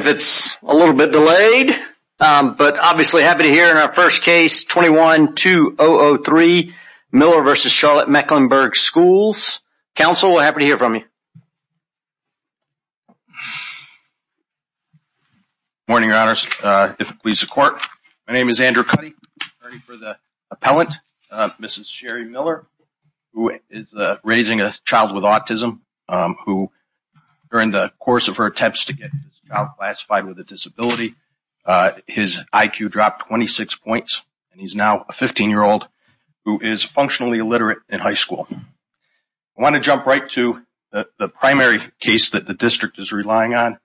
if it's a little bit delayed. But obviously happy to hear in our first case, 21-2003, Miller v. Charlotte-Mecklenburg Schools. Counsel, we're happy to hear from you. Morning, your honors, if it please the court. My name is Andrew Cuddy, attorney for the appellant, Mrs. Sherri Miller, who is raising a child with autism, who during the course of her attempts to get his child classified with a disability, his IQ dropped 26 points, and he's now a 15-year-old who is functionally illiterate in high school. I wanna jump right to the primary case that the district is relying on,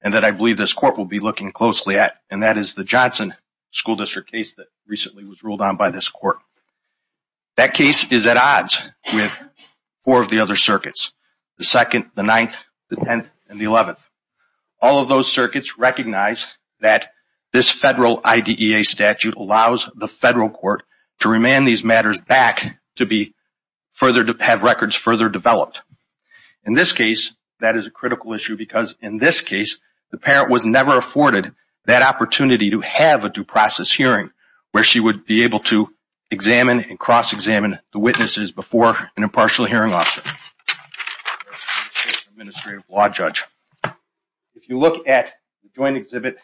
and that I believe this court will be looking closely at, and that is the Johnson School District case that recently was ruled on by this court. That case is at odds with four of the other circuits, the second, the ninth, the 10th, and the 11th. All of those circuits recognize that this federal IDEA statute allows the federal court to remand these matters back to have records further developed. In this case, that is a critical issue because in this case, the parent was never afforded that opportunity to have a due process hearing where she would be able to examine and cross-examine the witnesses before an impartial hearing officer. In this case, an administrative law judge. If you look at the joint exhibit,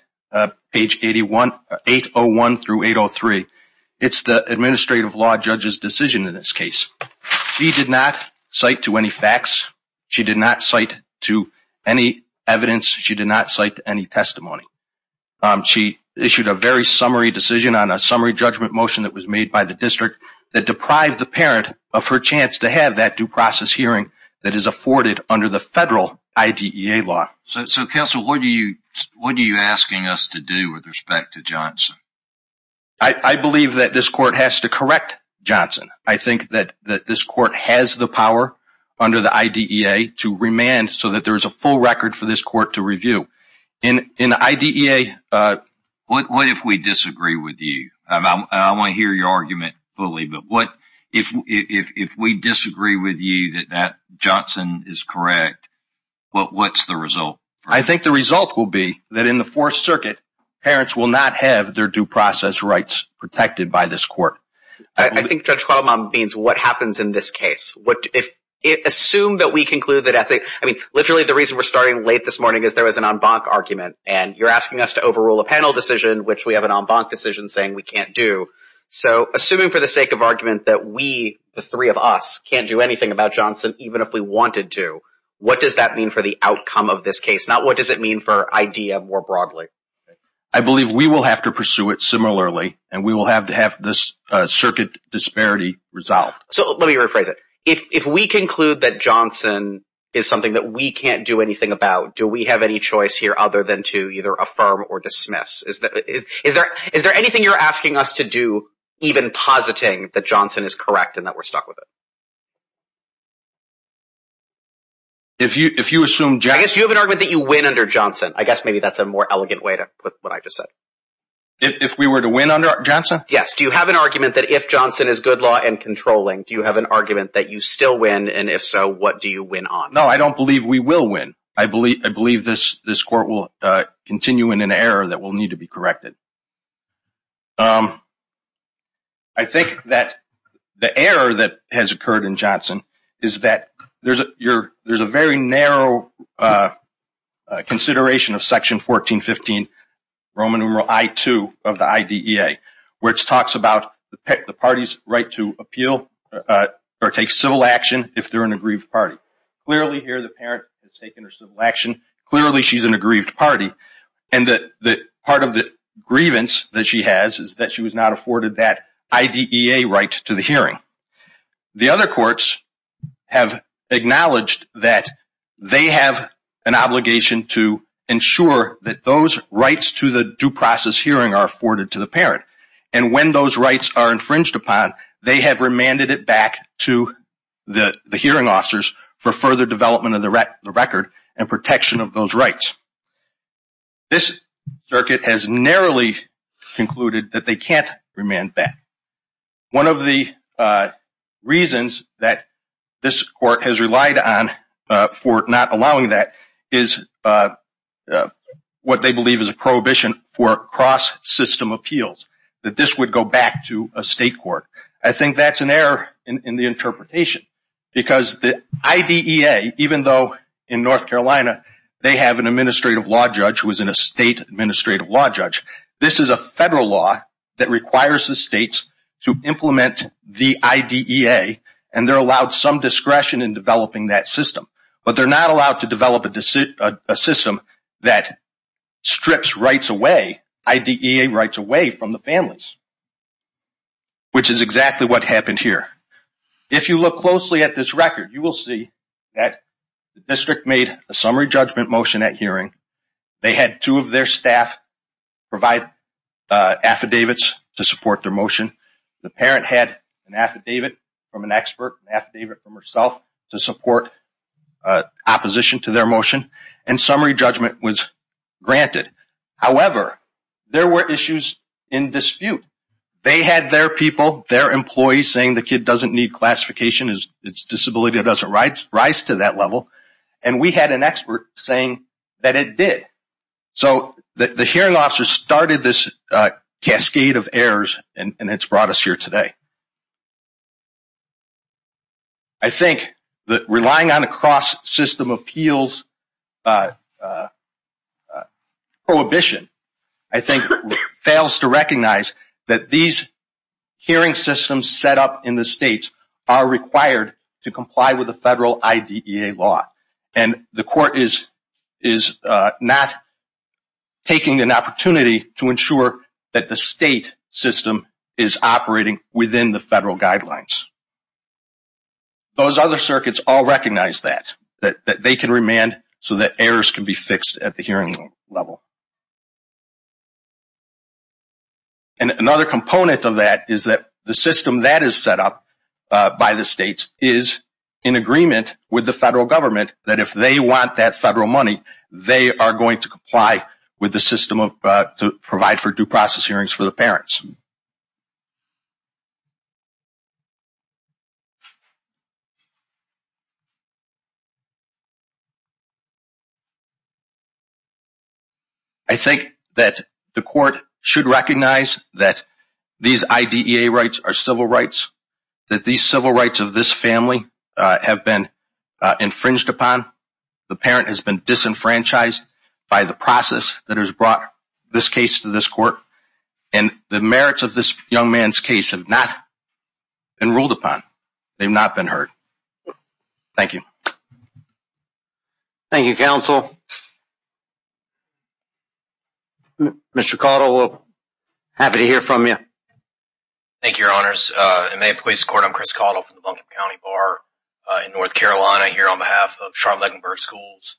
page 801 through 803, it's the administrative law judge's decision in this case. She did not cite to any facts. She did not cite to any evidence. She did not cite to any testimony. She issued a very summary decision on a summary judgment motion that was made by the district that deprived the parent of her chance to have that due process hearing that is afforded under the federal IDEA law. So, Counsel, what are you asking us to do with respect to Johnson? I believe that this court has to correct Johnson. I think that this court has the power under the IDEA to remand so that there is a full record for this court to review. In the IDEA... What if we disagree with you? I wanna hear your argument fully, but what if we disagree with you that Johnson is correct? What's the result? I think the result will be that in the Fourth Circuit, parents will not have their due process rights protected by this court. I think Judge Qualmah means what happens in this case. Assume that we conclude that... I mean, literally the reason we're starting late this morning is there was an en banc argument, and you're asking us to overrule a panel decision, which we have an en banc decision saying we can't do. So, assuming for the sake of argument that we, the three of us, can't do anything about Johnson, even if we wanted to, what does that mean for the outcome of this case? Not what does it mean for IDEA more broadly? I believe we will have to pursue it similarly, and we will have to have this circuit disparity resolved. So, let me rephrase it. If we conclude that Johnson is something that we can't do anything about, do we have any choice here other than to either affirm or dismiss? Is there anything you're asking us to do even positing that Johnson is correct and that we're stuck with it? If you assume... I guess you have an argument that you win under Johnson. I guess maybe that's a more elegant way to put what I just said. If we were to win under Johnson? Yes, do you have an argument that if Johnson is good law and controlling, do you have an argument that you still win, and if so, what do you win on? No, I don't believe we will win. I believe this court will continue in an error that will need to be corrected. I think that the error that has occurred in Johnson is that there's a very narrow consideration of section 1415, Roman numeral I-2 of the IDEA, which talks about the parties right to appeal or take civil action if they're an aggrieved party. Clearly, here, the parent has taken her civil action. Clearly, she's an aggrieved party, and part of the reason that this is an error grievance that she has is that she was not afforded that IDEA right to the hearing. The other courts have acknowledged that they have an obligation to ensure that those rights to the due process hearing are afforded to the parent, and when those rights are infringed upon, they have remanded it back to the hearing officers for further development of the record and protection of those rights. This circuit has narrowly concluded that they can't remand back. One of the reasons that this court has relied on for not allowing that is what they believe is a prohibition for cross-system appeals, that this would go back to a state court. I think that's an error in the interpretation because the IDEA, even though in North Carolina, they have an administrative law judge who is in a state administrative law judge, this is a federal law that requires the states to implement the IDEA, and they're allowed some discretion in developing that system, but they're not allowed to develop a system that strips rights away, IDEA rights away from the families, which is exactly what happened here. If you look closely at this record, you will see that the district made a summary judgment motion at hearing. They had two of their staff provide affidavits to support their motion. The parent had an affidavit from an expert, an affidavit from herself to support opposition to their motion, and summary judgment was granted. However, there were issues in dispute. They had their people, their employees, saying the kid doesn't need classification, its disability doesn't rise to that level, and we had an expert saying that it did. So the hearing officer started this cascade of errors, and it's brought us here today. I think that relying on a cross-system appeals prohibition I think fails to recognize that these hearing systems set up in the states are required to comply with the federal IDEA law, and the court is not taking an opportunity to ensure that the state system is operating within the federal guidelines. Those other circuits all recognize that, that they can remand so that errors can be fixed at the hearing level. And another component of that is that the system that is set up by the states is in agreement with the federal government that if they want that federal money, they are going to comply with the system to provide for due process hearings for the parents. I think that the court should recognize that these IDEA rights are civil rights, that these civil rights of this family have been infringed upon, the parent has been disenfranchised by the process that has brought this case to this court, and the merits of this young man's case have not been ruled upon, they've not been heard. Thank you. Thank you, counsel. Mr. Caudill, happy to hear from you. Thank you, your honors. And may it please the court, I'm Chris Caudill from the Buncombe County Bar in North Carolina, here on behalf of Charlotte-Ledenburg Schools.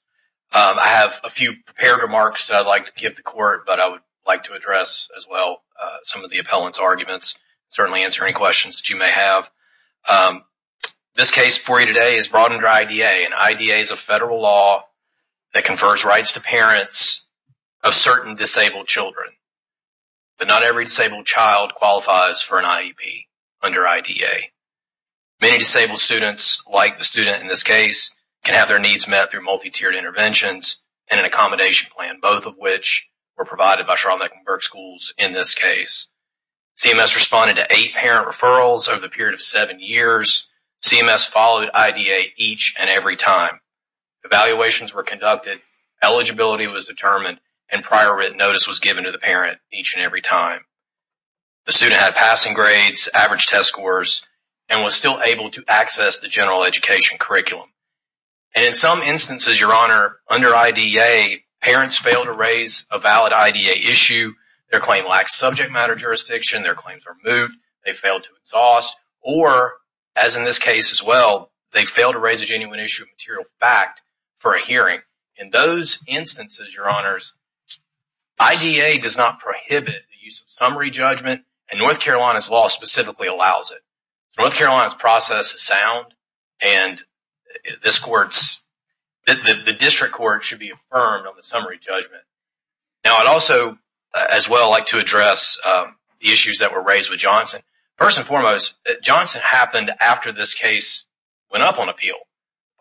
I have a few prepared remarks that I'd like to give the court, but I would like to address as well some of the appellant's arguments, certainly answer any questions that you may have. This case for you today is brought under IDEA, and IDEA is a federal law that confers rights to parents of certain disabled children. But not every disabled child qualifies for an IEP under IDEA. Many disabled students, like the student in this case, can have their needs met through multi-tiered interventions and an accommodation plan, both of which were provided by Charlotte-Ledenburg Schools in this case. CMS responded to eight parent referrals over the period of seven years. CMS followed IDEA each and every time. Evaluations were conducted, eligibility was determined, and prior written notice was given to the parent each and every time. The student had passing grades, average test scores, and was still able to access the general education curriculum. And in some instances, Your Honor, under IDEA, parents fail to raise a valid IDEA issue, their claim lacks subject matter jurisdiction, their claims are moved, they fail to exhaust, or, as in this case as well, they fail to raise a genuine issue of material fact for a hearing. In those instances, Your Honors, IDEA does not prohibit the use of summary judgment, and North Carolina's law specifically allows it. North Carolina's process is sound, and the district court should be affirmed on the summary judgment. Now, I'd also, as well, like to address the issues that were raised with Johnson. First and foremost, Johnson happened after this case went up on appeal.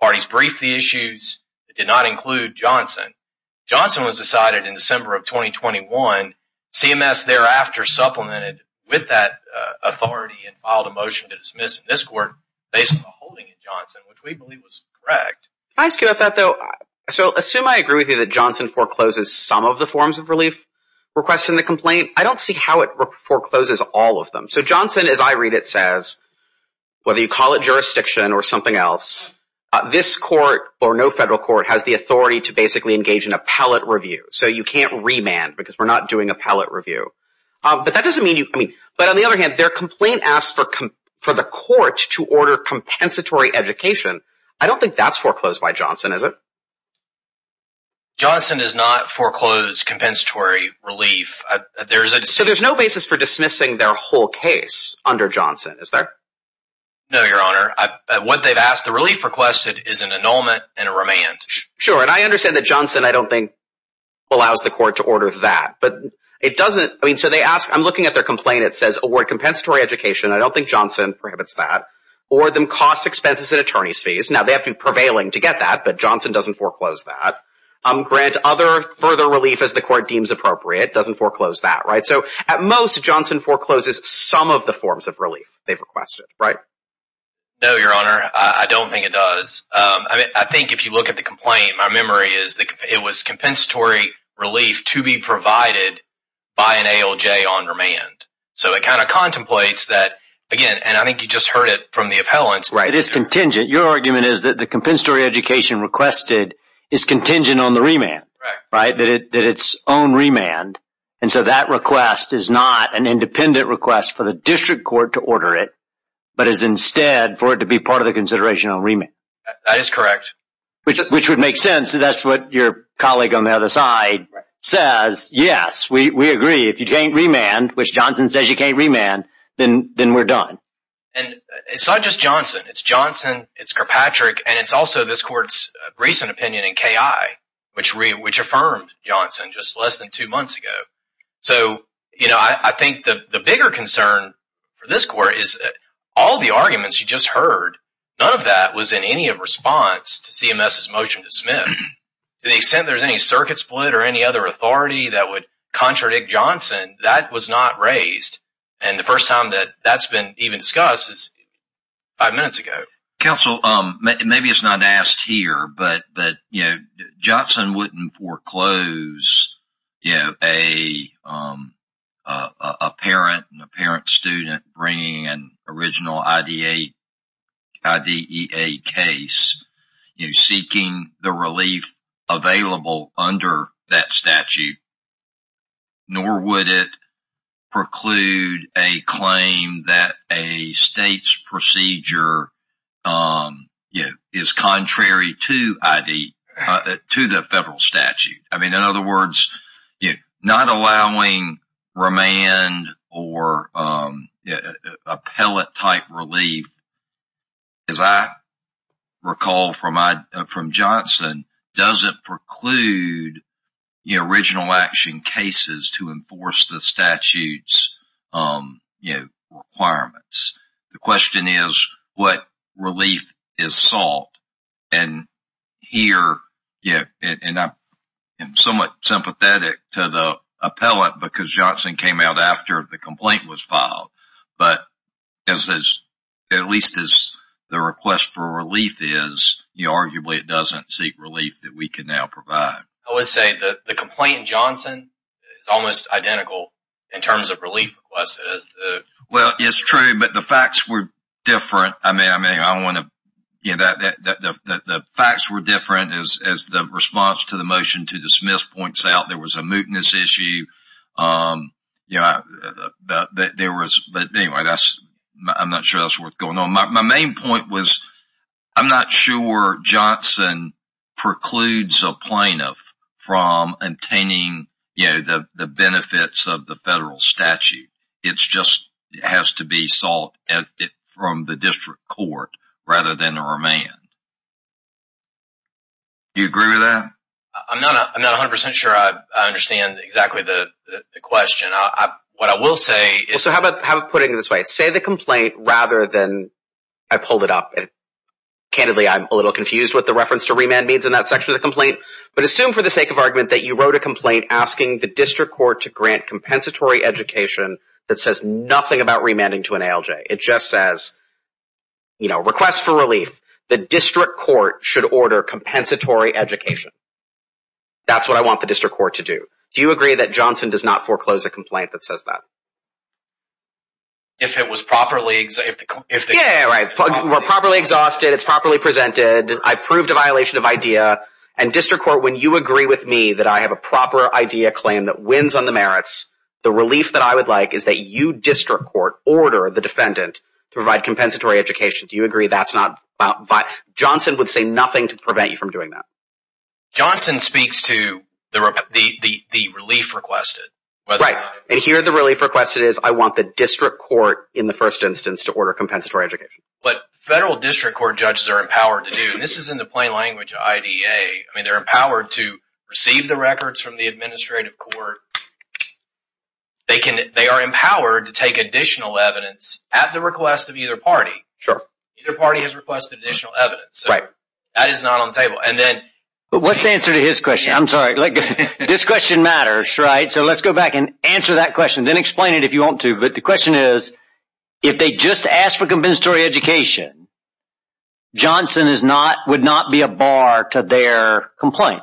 Parties briefed the issues that did not include Johnson. Johnson was decided in December of 2021, CMS thereafter supplemented with that authority and filed a motion to dismiss in this court based on the holding in Johnson, which we believe was correct. Can I ask you about that, though? So, assume I agree with you that Johnson forecloses some of the forms of relief requests in the complaint, I don't see how it forecloses all of them. So, Johnson, as I read it, says, whether you call it jurisdiction or something else, this court, or no federal court, has the authority to basically engage in appellate review. So, you can't remand, because we're not doing appellate review. But that doesn't mean you, I mean, but on the other hand, their complaint asks for the court to order compensatory education. I don't think that's foreclosed by Johnson, is it? Johnson does not foreclose compensatory relief. There's a- So, there's no basis for dismissing their whole case under Johnson, is there? No, Your Honor. What they've asked, the relief requested is an annulment and a remand. Sure, and I understand that Johnson, I don't think, allows the court to order that. But it doesn't, I mean, so they ask, I'm looking at their complaint, it says award compensatory education. I don't think Johnson prohibits that. Or them cost expenses and attorney's fees. Now, they have to be prevailing to get that, but Johnson doesn't foreclose that. Grant other further relief as the court deems appropriate, doesn't foreclose that, right? So, at most, Johnson forecloses some of the forms of relief they've requested, right? No, Your Honor, I don't think it does. I think if you look at the complaint, my memory is that it was compensatory relief to be provided by an ALJ on remand. So, it kind of contemplates that, again, and I think you just heard it from the appellants. Right, it is contingent. Your argument is that the compensatory education requested is contingent on the remand, right? That it's own remand. And so, that request is not an independent request for the district court to order it, but is instead for it to be part of the consideration on remand. That is correct. Which would make sense, and that's what your colleague on the other side says. Yes, we agree. If you can't remand, which Johnson says you can't remand, then we're done. And it's not just Johnson. It's Johnson, it's Kirkpatrick, and it's also this court's recent opinion in KI, which affirmed Johnson just less than two months ago. So, I think the bigger concern for this court is that all the arguments you just heard, none of that was in any of response to CMS's motion to submit. To the extent there's any circuit split or any other authority that would contradict Johnson, that was not raised. And the first time that that's been even discussed is five minutes ago. Counsel, maybe it's not asked here, but Johnson wouldn't foreclose a parent and a parent student bringing an original IDEA case, seeking the relief available under that statute. Nor would it preclude a claim that a state's procedure is contrary to the federal statute. I mean, in other words, not allowing remand or appellate-type relief, as I recall from Johnson, doesn't preclude original action cases to enforce the statute's requirements. The question is, what relief is sought? And here, yeah, and I'm somewhat sympathetic to the appellate because Johnson came out after the complaint was filed. But at least as the request for relief is, you know, arguably it doesn't seek relief that we can now provide. I would say that the complaint in Johnson is almost identical in terms of relief requests. Well, it's true, but the facts were different. I mean, I don't want to... You know, the facts were different as the response to the motion to dismiss points out. There was a mootness issue. You know, there was... But anyway, I'm not sure that's worth going on. My main point was, I'm not sure Johnson precludes a plaintiff from obtaining, you know, the benefits of the federal statute. It just has to be sought from the district court rather than a remand. Do you agree with that? I'm not 100% sure I understand exactly the question. What I will say is... Well, so how about putting it this way? Say the complaint rather than... I pulled it up. Candidly, I'm a little confused what the reference to remand means in that section of the complaint. But assume for the sake of argument that you wrote a complaint asking the district court to grant compensatory education that says nothing about remanding to an ALJ. It just says, you know, request for relief. The district court should order compensatory education. That's what I want the district court to do. Do you agree that Johnson does not foreclose a complaint that says that? If it was properly... Yeah, right. We're properly exhausted. It's properly presented. I proved a violation of idea. And district court, when you agree with me that I have a proper idea claim that wins on the merits, the relief that I would like is that you, district court, order the defendant to provide compensatory education. Do you agree that's not... Johnson would say nothing to prevent you from doing that. Johnson speaks to the relief requested. Right, and here the relief requested is I want the district court in the first instance to order compensatory education. But federal district court judges are empowered to do, and this is in the plain language of IDA, I mean, they're empowered to receive the records from the administrative court. They are empowered to take additional evidence at the request of either party. Sure. Either party has requested additional evidence. Right. That is not on the table. And then... What's the answer to his question? I'm sorry. This question matters, right? So let's go back and answer that question, then explain it if you want to. But the question is, if they just ask for compensatory education, Johnson would not be a bar to their complaint.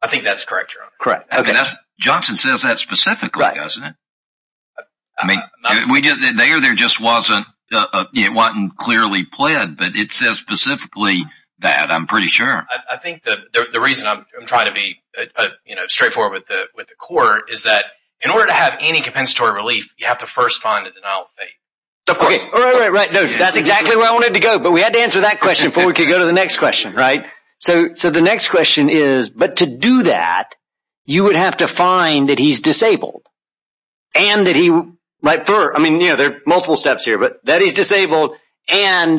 I think that's correct, Your Honor. Correct, okay. Johnson says that specifically, doesn't it? I mean, there just wasn't, it wasn't clearly pled, but it says specifically that, I'm pretty sure. I think the reason I'm trying to be straightforward with the court is that in order to have any compensatory relief, you have to first find a denial of faith. Of course. Right, that's exactly where I wanted to go, but we had to answer that question before we could go to the next question, right? So the next question is, but to do that, you would have to find that he's disabled, and that he, like for, I mean, there are multiple steps here, but that he's disabled, and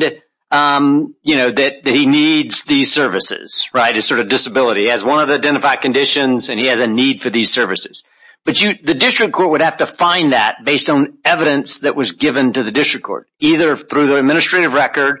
that he needs these services, right? His sort of disability. He has one of the identified conditions, and he has a need for these services. But the district court would have to find that based on evidence that was given to the district court, either through the administrative record,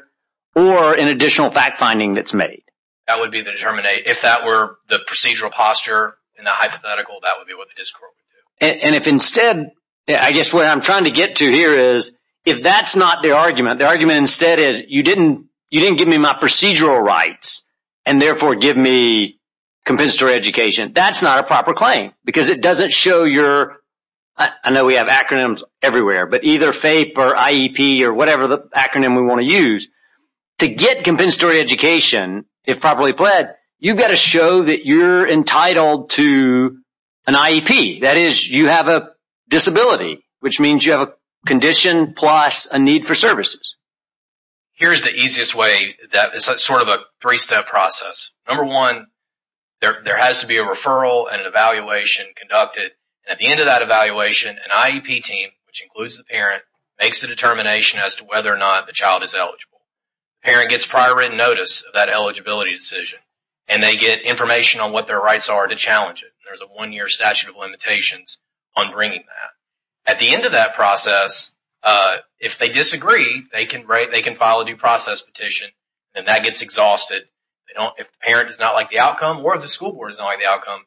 or an additional fact finding that's made. That would be the determinate. If that were the procedural posture, and the hypothetical, that would be what the district court would do. And if instead, I guess what I'm trying to get to here is, if that's not the argument, the argument instead is, you didn't give me my procedural rights, and therefore give me compensatory education. That's not a proper claim, because it doesn't show your, I know we have acronyms everywhere, but either FAPE or IEP, or whatever the acronym we want to use. To get compensatory education, if properly pled, you've got to show that you're entitled to an IEP. That is, you have a disability, which means you have a condition, plus a need for services. Here's the easiest way, that is sort of a three-step process. Number one, there has to be a referral, At the end of that evaluation, an IEP team, which includes the parent, makes a determination as to whether or not the child is eligible. Parent gets prior written notice of that eligibility decision, and they get information on what their rights are to challenge it. There's a one-year statute of limitations on bringing that. At the end of that process, if they disagree, they can file a due process petition, and that gets exhausted. If the parent does not like the outcome, or if the school board does not like the outcome,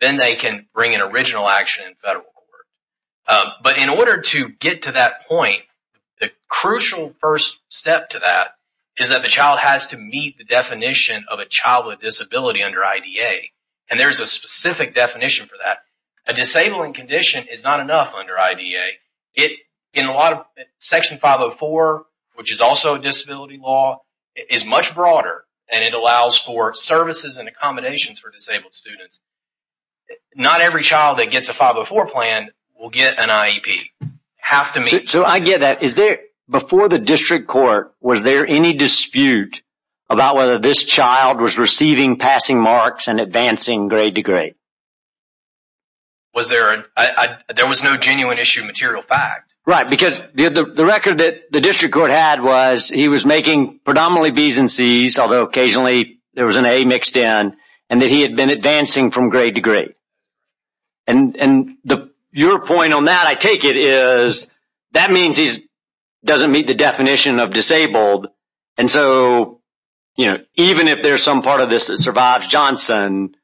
then they can bring an original action in federal court. But in order to get to that point, the crucial first step to that is that the child has to meet the definition of a child with a disability under IDA. And there's a specific definition for that. A disabling condition is not enough under IDA. Section 504, which is also a disability law, is much broader, and it allows for services and accommodations for disabled students. Not every child that gets a 504 plan will get an IEP. Have to meet- So I get that. Before the district court, was there any dispute about whether this child was receiving passing marks and advancing grade to grade? There was no genuine issue of material fact. Right, because the record that the district court had was he was making predominantly Bs and Cs, although occasionally there was an A mixed in, and that he had been advancing from grade to grade. And your point on that, I take it, is that means he doesn't meet the definition of disabled. And so even if there's some part of this that survives Johnson,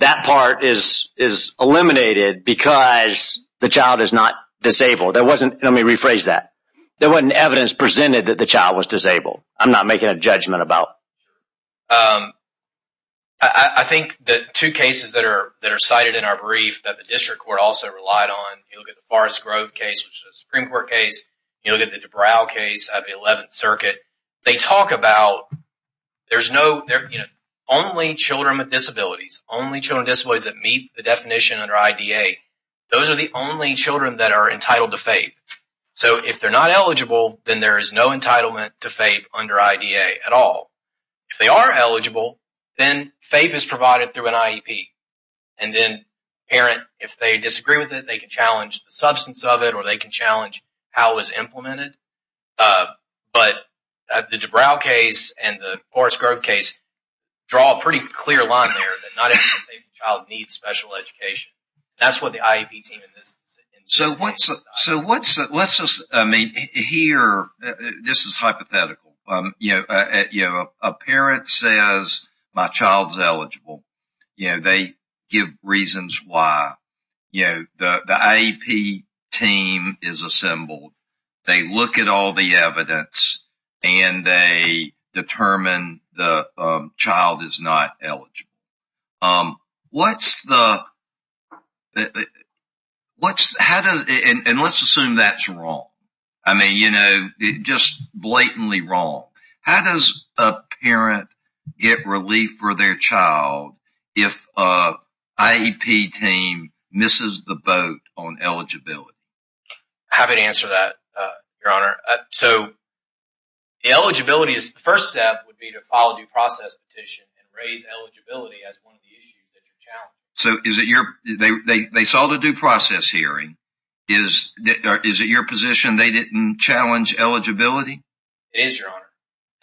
that part is eliminated because the child is not disabled. There wasn't- Let me rephrase that. There wasn't evidence presented that the child was disabled. I'm not making a judgment about- I think that two cases that are cited in our brief that the district court also relied on, you look at the Forrest Grove case, which is a Supreme Court case. You look at the DeBrow case out of the 11th Circuit. They talk about there's no- Only children with disabilities, only children with disabilities that meet the definition under IDA. Those are the only children that are entitled to FAPE. So if they're not eligible, then there is no entitlement to FAPE under IDA at all. If they are eligible, then FAPE is provided through an IEP. And then parent, if they disagree with it, they can challenge the substance of it or they can challenge how it was implemented. But the DeBrow case and the Forrest Grove case draw a pretty clear line there that not every disabled child needs special education. That's what the IEP team in this- So what's- So what's- Let's just- I mean, here, this is hypothetical. A parent says, my child's eligible. You know, they give reasons why. You know, the IEP team is assembled. They look at all the evidence and they determine the child is not eligible. What's the- What's- How does- And let's assume that's wrong. I mean, you know, just blatantly wrong. How does a parent get relief for their child if an IEP team misses the vote on eligibility? Happy to answer that, Your Honor. So eligibility is- The first step would be to file a due process petition and raise eligibility as one of the issues that you're challenging. So is it your- They saw the due process hearing. Is it your position they didn't challenge eligibility? It is, Your Honor.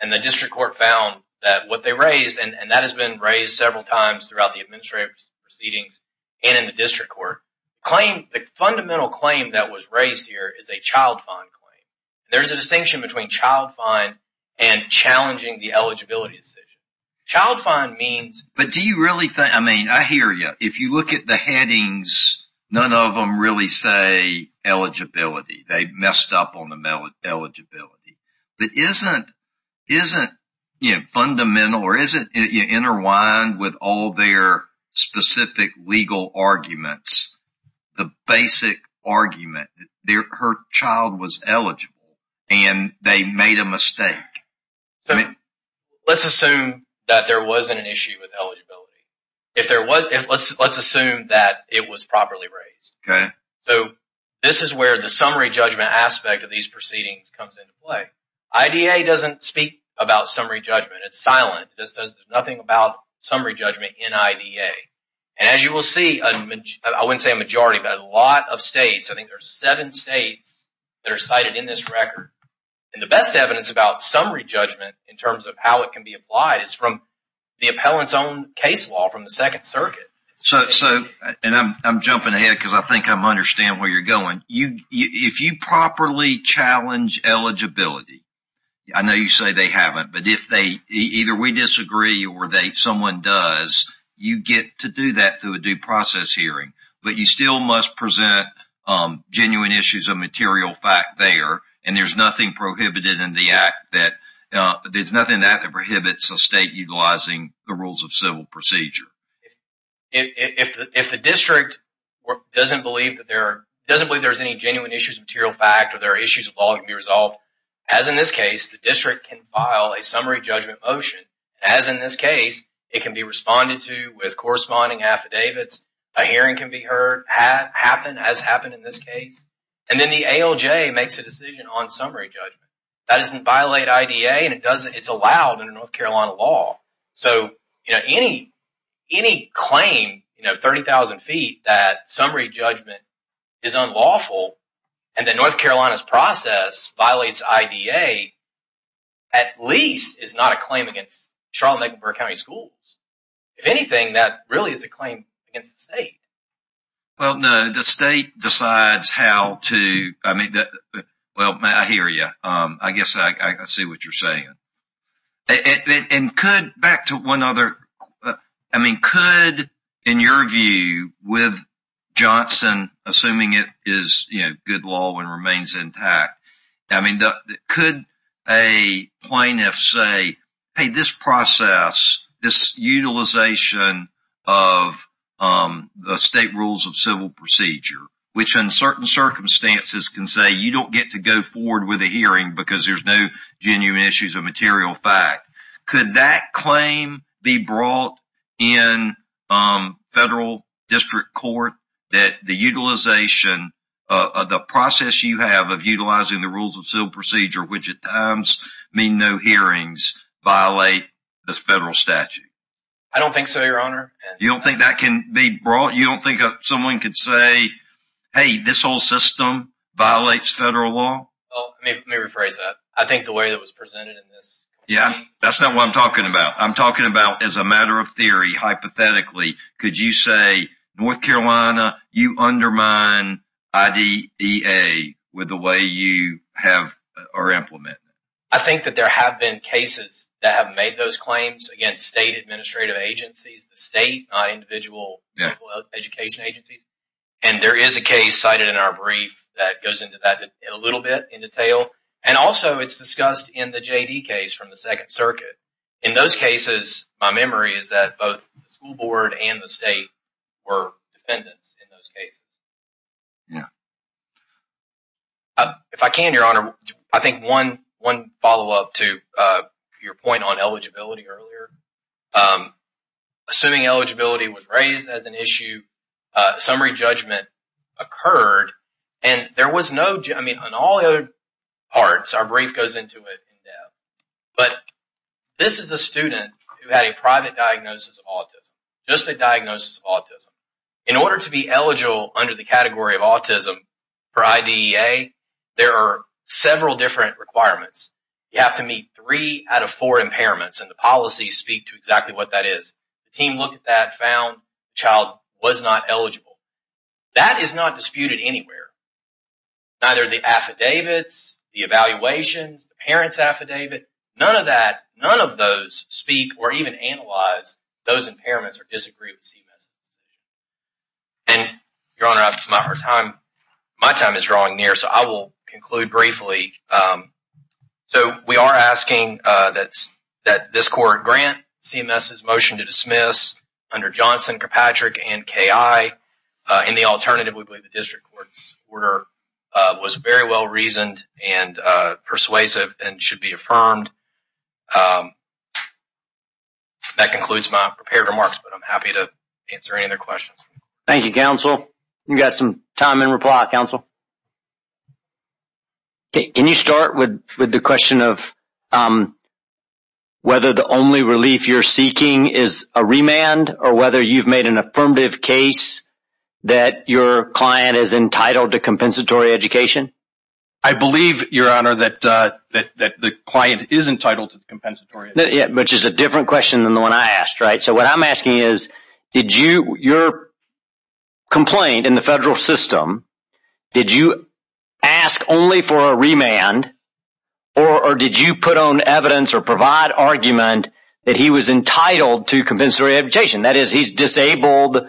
And the district court found that what they raised, and that has been raised several times throughout the administrative proceedings and in the district court, claim- The fundamental claim that was raised here is a child fine claim. There's a distinction between child fine and challenging the eligibility decision. Child fine means- But do you really think- I mean, I hear you. If you look at the headings, none of them really say eligibility. They messed up on the eligibility. But isn't fundamental, or isn't it interwined with all their specific legal arguments, the basic argument that her child was eligible and they made a mistake? I mean- Let's assume that there wasn't an issue with eligibility. If there was, let's assume that it was properly raised. Okay. So this is where the summary judgment aspect of these proceedings comes into play. IDA doesn't speak about summary judgment. It's silent. There's nothing about summary judgment in IDA. And as you will see, I wouldn't say a majority, but a lot of states, I think there's seven states that are cited in this record. And the best evidence about summary judgment in terms of how it can be applied is from the appellant's own case law from the Second Circuit. So, and I'm jumping ahead because I think I'm understand where you're going. If you properly challenge eligibility, I know you say they haven't, but if they, either we disagree or someone does, you get to do that through a due process hearing. But you still must present genuine issues of material fact there. And there's nothing prohibited in the act that, there's nothing that prohibits a state utilizing the rules of civil procedure. If the district doesn't believe that there are, doesn't believe there's any genuine issues of material fact or there are issues of law that can be resolved, as in this case, the district can file a summary judgment motion. As in this case, it can be responded to with corresponding affidavits. A hearing can be heard, has happened in this case. And then the ALJ makes a decision on summary judgment. That doesn't violate IDA and it doesn't, it's allowed in a North Carolina law. So, you know, any claim, you know, 30,000 feet, that summary judgment is unlawful and that North Carolina's process violates IDA, at least is not a claim against Charlotte and Mecklenburg County schools. If anything, that really is a claim against the state. Well, no, the state decides how to, I mean, well, I hear you. I guess I see what you're saying. And could, back to one other, I mean, could, in your view, with Johnson, assuming it is, you know, good law and remains intact, I mean, could a plaintiff say, hey, this process, this utilization of the state rules of civil procedure, which in certain circumstances can say you don't get to go forward with a hearing because there's no genuine issues of material fact, could that claim be brought in federal district court that the utilization of the process you have of utilizing the rules of civil procedure, which at times mean no hearings, violate this federal statute? I don't think so, your honor. You don't think that can be brought, you don't think someone could say, hey, this whole system violates federal law? Oh, let me rephrase that. I think the way that was presented in this. Yeah, that's not what I'm talking about. I'm talking about as a matter of theory, hypothetically, could you say, North Carolina, you undermine IDEA with the way you have or implement? I think that there have been cases that have made those claims against state administrative agencies, the state, not individual education agencies. And there is a case cited in our brief that goes into that a little bit in detail. And also it's discussed in the JD case from the second circuit. In those cases, my memory is that both the school board and the state were defendants in those cases. Yeah. If I can, your honor, I think one follow-up to your point on eligibility earlier. Assuming eligibility was raised as an issue, summary judgment occurred, and there was no, I mean, on all the other parts, our brief goes into it in depth, but this is a student who had a private diagnosis of autism, just a diagnosis of autism. In order to be eligible under the category of autism for IDEA, there are several different requirements. You have to meet three out of four impairments, and the policies speak to exactly what that is. The team looked at that, found the child was not eligible. That is not disputed anywhere. Neither the affidavits, the evaluations, the parents' affidavit, none of that, none of those speak or even analyze those impairments or disagree with CMS's decision. And your honor, my time is drawing near, so I will conclude briefly. So we are asking that this court grant CMS's motion to dismiss under Johnson, Kirkpatrick, and KI. In the alternative, we believe the district court's order was very well-reasoned and persuasive and should be affirmed. That concludes my prepared remarks, but I'm happy to answer any other questions. Thank you, counsel. You've got some time in reply, counsel. Can you start with the question of whether the only relief you're seeking is a remand or whether you've made an affirmative case that your client is entitled to compensatory education? I believe, your honor, that the client is entitled to compensatory education. Which is a different question than the one I asked, right? So what I'm asking is, did you, your complaint in the federal system, did you ask only for a remand or did you put on evidence or provide argument that he was entitled to compensatory education? That is, he's disabled in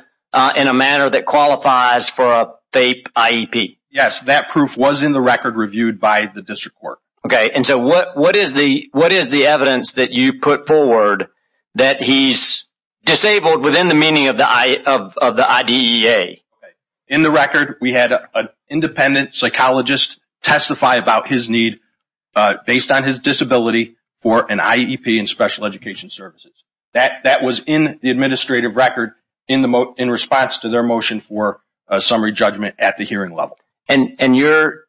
a manner that qualifies for a FAPE IEP? Yes, that proof was in the record reviewed by the district court. Okay, and so what is the evidence that you put forward that he's disabled within the meaning of the IDEA? In the record, we had an independent psychologist testify about his need based on his disability for an IEP in special education services. That was in the administrative record in response to their motion for a summary judgment at the hearing level. And your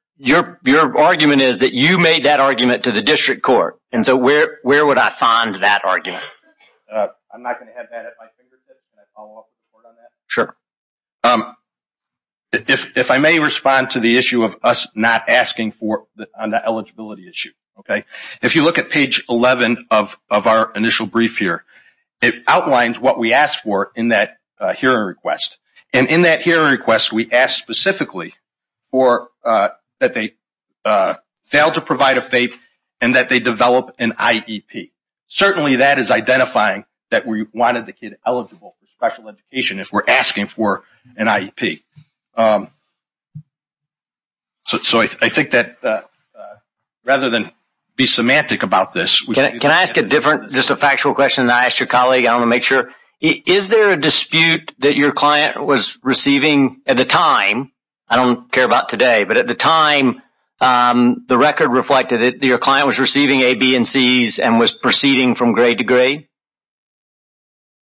argument is that you made that argument to the district court. And so where would I find that argument? I'm not gonna have that at my fingertips. Can I follow up with the court on that? Sure. If I may respond to the issue of us not asking for the eligibility issue, okay? If you look at page 11 of our initial brief here, it outlines what we asked for in that hearing request. And in that hearing request, we asked specifically that they failed to provide a FAPE and that they develop an IEP. Certainly that is identifying that we wanted the kid eligible for special education if we're asking for an IEP. So I think that rather than be semantic about this- Can I ask a different, just a factual question that I asked your colleague, I wanna make sure. Is there a dispute that your client was receiving at the time, I don't care about today, but at the time the record reflected that your client was receiving A, B, and Cs and was proceeding from grade to grade?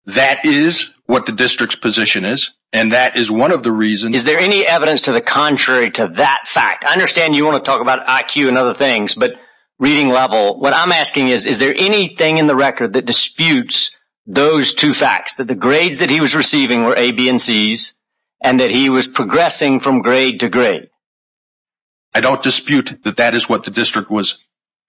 That is what the district's position is. And that is one of the reasons- Is there any evidence to the contrary to that fact? I understand you wanna talk about IQ and other things, but reading level, what I'm asking is, is there anything in the record that disputes those two facts? That the grades that he was receiving were A, B, and Cs and that he was progressing from grade to grade? I don't dispute that that is what the district was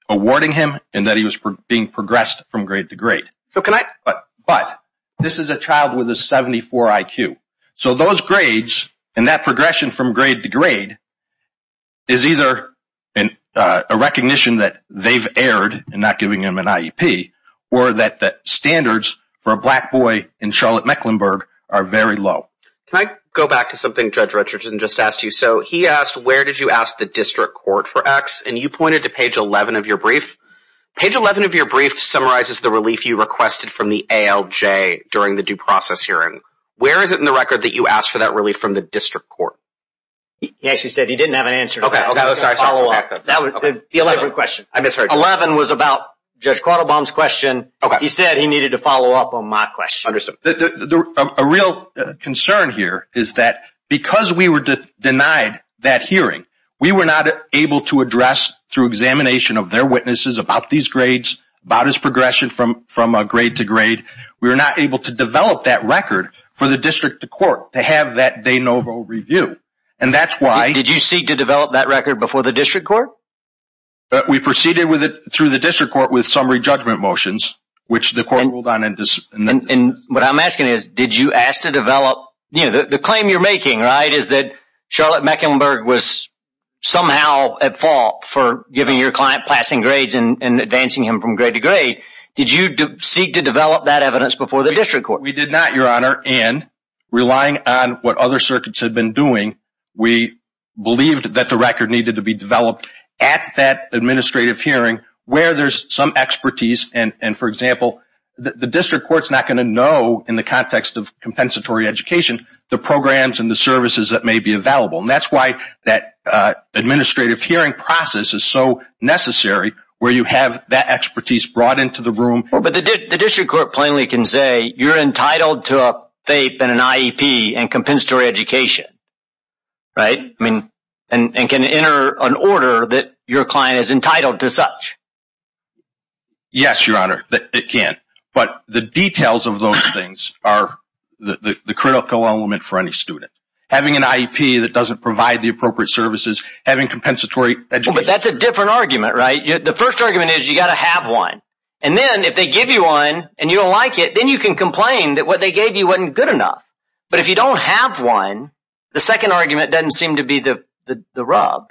awarding him and that he was being progressed from grade to grade. But this is a child with a 74 IQ. So those grades and that progression from grade to grade is either a recognition that they've erred in not giving him an IEP or that the standards for a black boy in Charlotte-Mecklenburg are very low. Can I go back to something Judge Richardson just asked you? So he asked, where did you ask the district court for X? And you pointed to page 11 of your brief. Page 11 of your brief summarizes the relief you requested from the ALJ during the due process hearing. Where is it in the record that you asked for that relief from the district court? He actually said he didn't have an answer. Okay, okay, I'm sorry, I'm sorry. That was the elaborate question. I misheard you. 11 was about Judge Quattlebaum's question. He said he needed to follow up on my question. Understood. A real concern here is that because we were denied that hearing, we were not able to address through examination of their witnesses about these grades, about his progression from grade to grade. We were not able to develop that record for the district court to have that de novo review. And that's why- Did you seek to develop that record before the district court? We proceeded with it through the district court with summary judgment motions, which the court ruled on in the- And what I'm asking is, did you ask to develop, you know, the claim you're making, right, is that Charlotte-Mecklenburg was somehow at fault for giving your client passing grades and advancing him from grade to grade. Did you seek to develop that evidence before the district court? We did not, Your Honor. And relying on what other circuits had been doing, we believed that the record needed to be developed at that administrative hearing where there's some expertise. And for example, the district court's not gonna know in the context of compensatory education, the programs and the services that may be available. And that's why that administrative hearing process is so necessary where you have that expertise brought into the room. Well, but the district court plainly can say you're entitled to a FAPE and an IEP and compensatory education, right? I mean, and can enter an order that your client is entitled to such. Yes, Your Honor, it can. But the details of those things are the critical element for any student. Having an IEP that doesn't provide the appropriate services, having compensatory education- No, but that's a different argument, right? The first argument is you gotta have one. And then if they give you one and you don't like it, then you can complain that what they gave you wasn't good enough. But if you don't have one, the second argument doesn't seem to be the rub.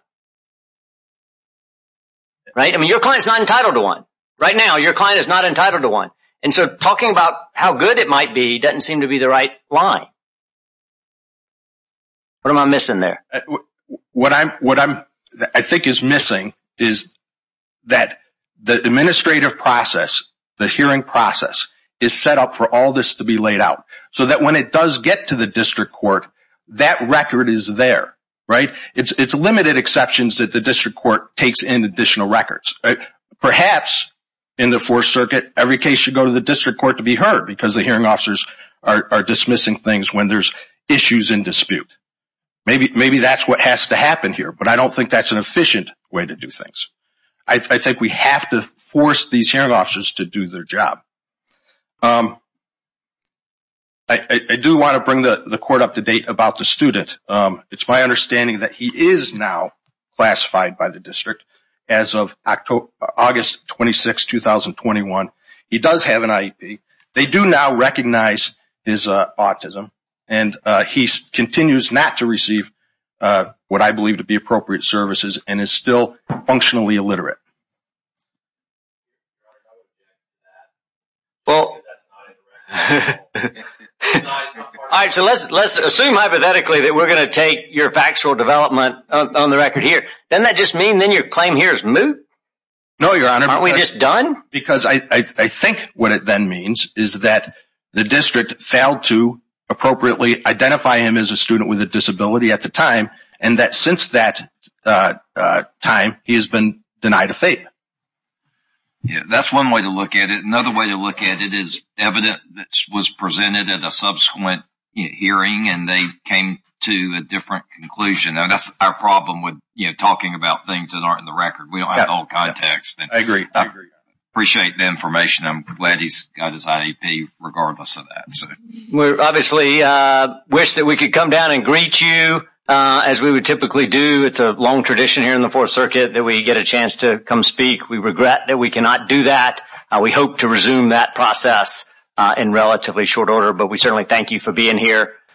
Right, I mean, your client's not entitled to one. Right now, your client is not entitled to one. And so talking about how good it might be doesn't seem to be the right line. What am I missing there? What I think is missing is that the administrative process, the hearing process is set up for all this to be laid out so that when it does get to the district court, that record is there, right? It's limited exceptions that the district court takes in additional records. Perhaps in the Fourth Circuit, every case should go to the district court to be heard because the hearing officers are dismissing things when there's issues in dispute. Maybe that's what has to happen here, but I don't think that's an efficient way to do things. I think we have to force these hearing officers to do their job. I do wanna bring the court up to date about the student. It's my understanding that he is now classified by the district as of August 26, 2021. He does have an IEP. They do now recognize his autism and he continues not to receive what I believe to be appropriate services and is still functionally illiterate. Well. All right, so let's assume hypothetically that we're gonna take your factual development on the record here. Doesn't that just mean then your claim here is moot? No, Your Honor. Aren't we just done? Because I think what it then means is that the district failed to appropriately identify him as a student with a disability at the time and that since that time, he has been denied a fate. Yeah, that's one way to look at it. Another way to look at it is evidence was presented at a subsequent hearing and they came to a different conclusion. And that's our problem with talking about things that aren't in the record. We don't have all context. I agree. Appreciate the information. I'm glad he's got his IEP regardless of that. We obviously wish that we could come down and greet you as we would typically do. It's a long tradition here in the Fourth Circuit that we get a chance to come speak. We regret that we cannot do that. We hope to resume that process in relatively short order, but we certainly thank you for being here.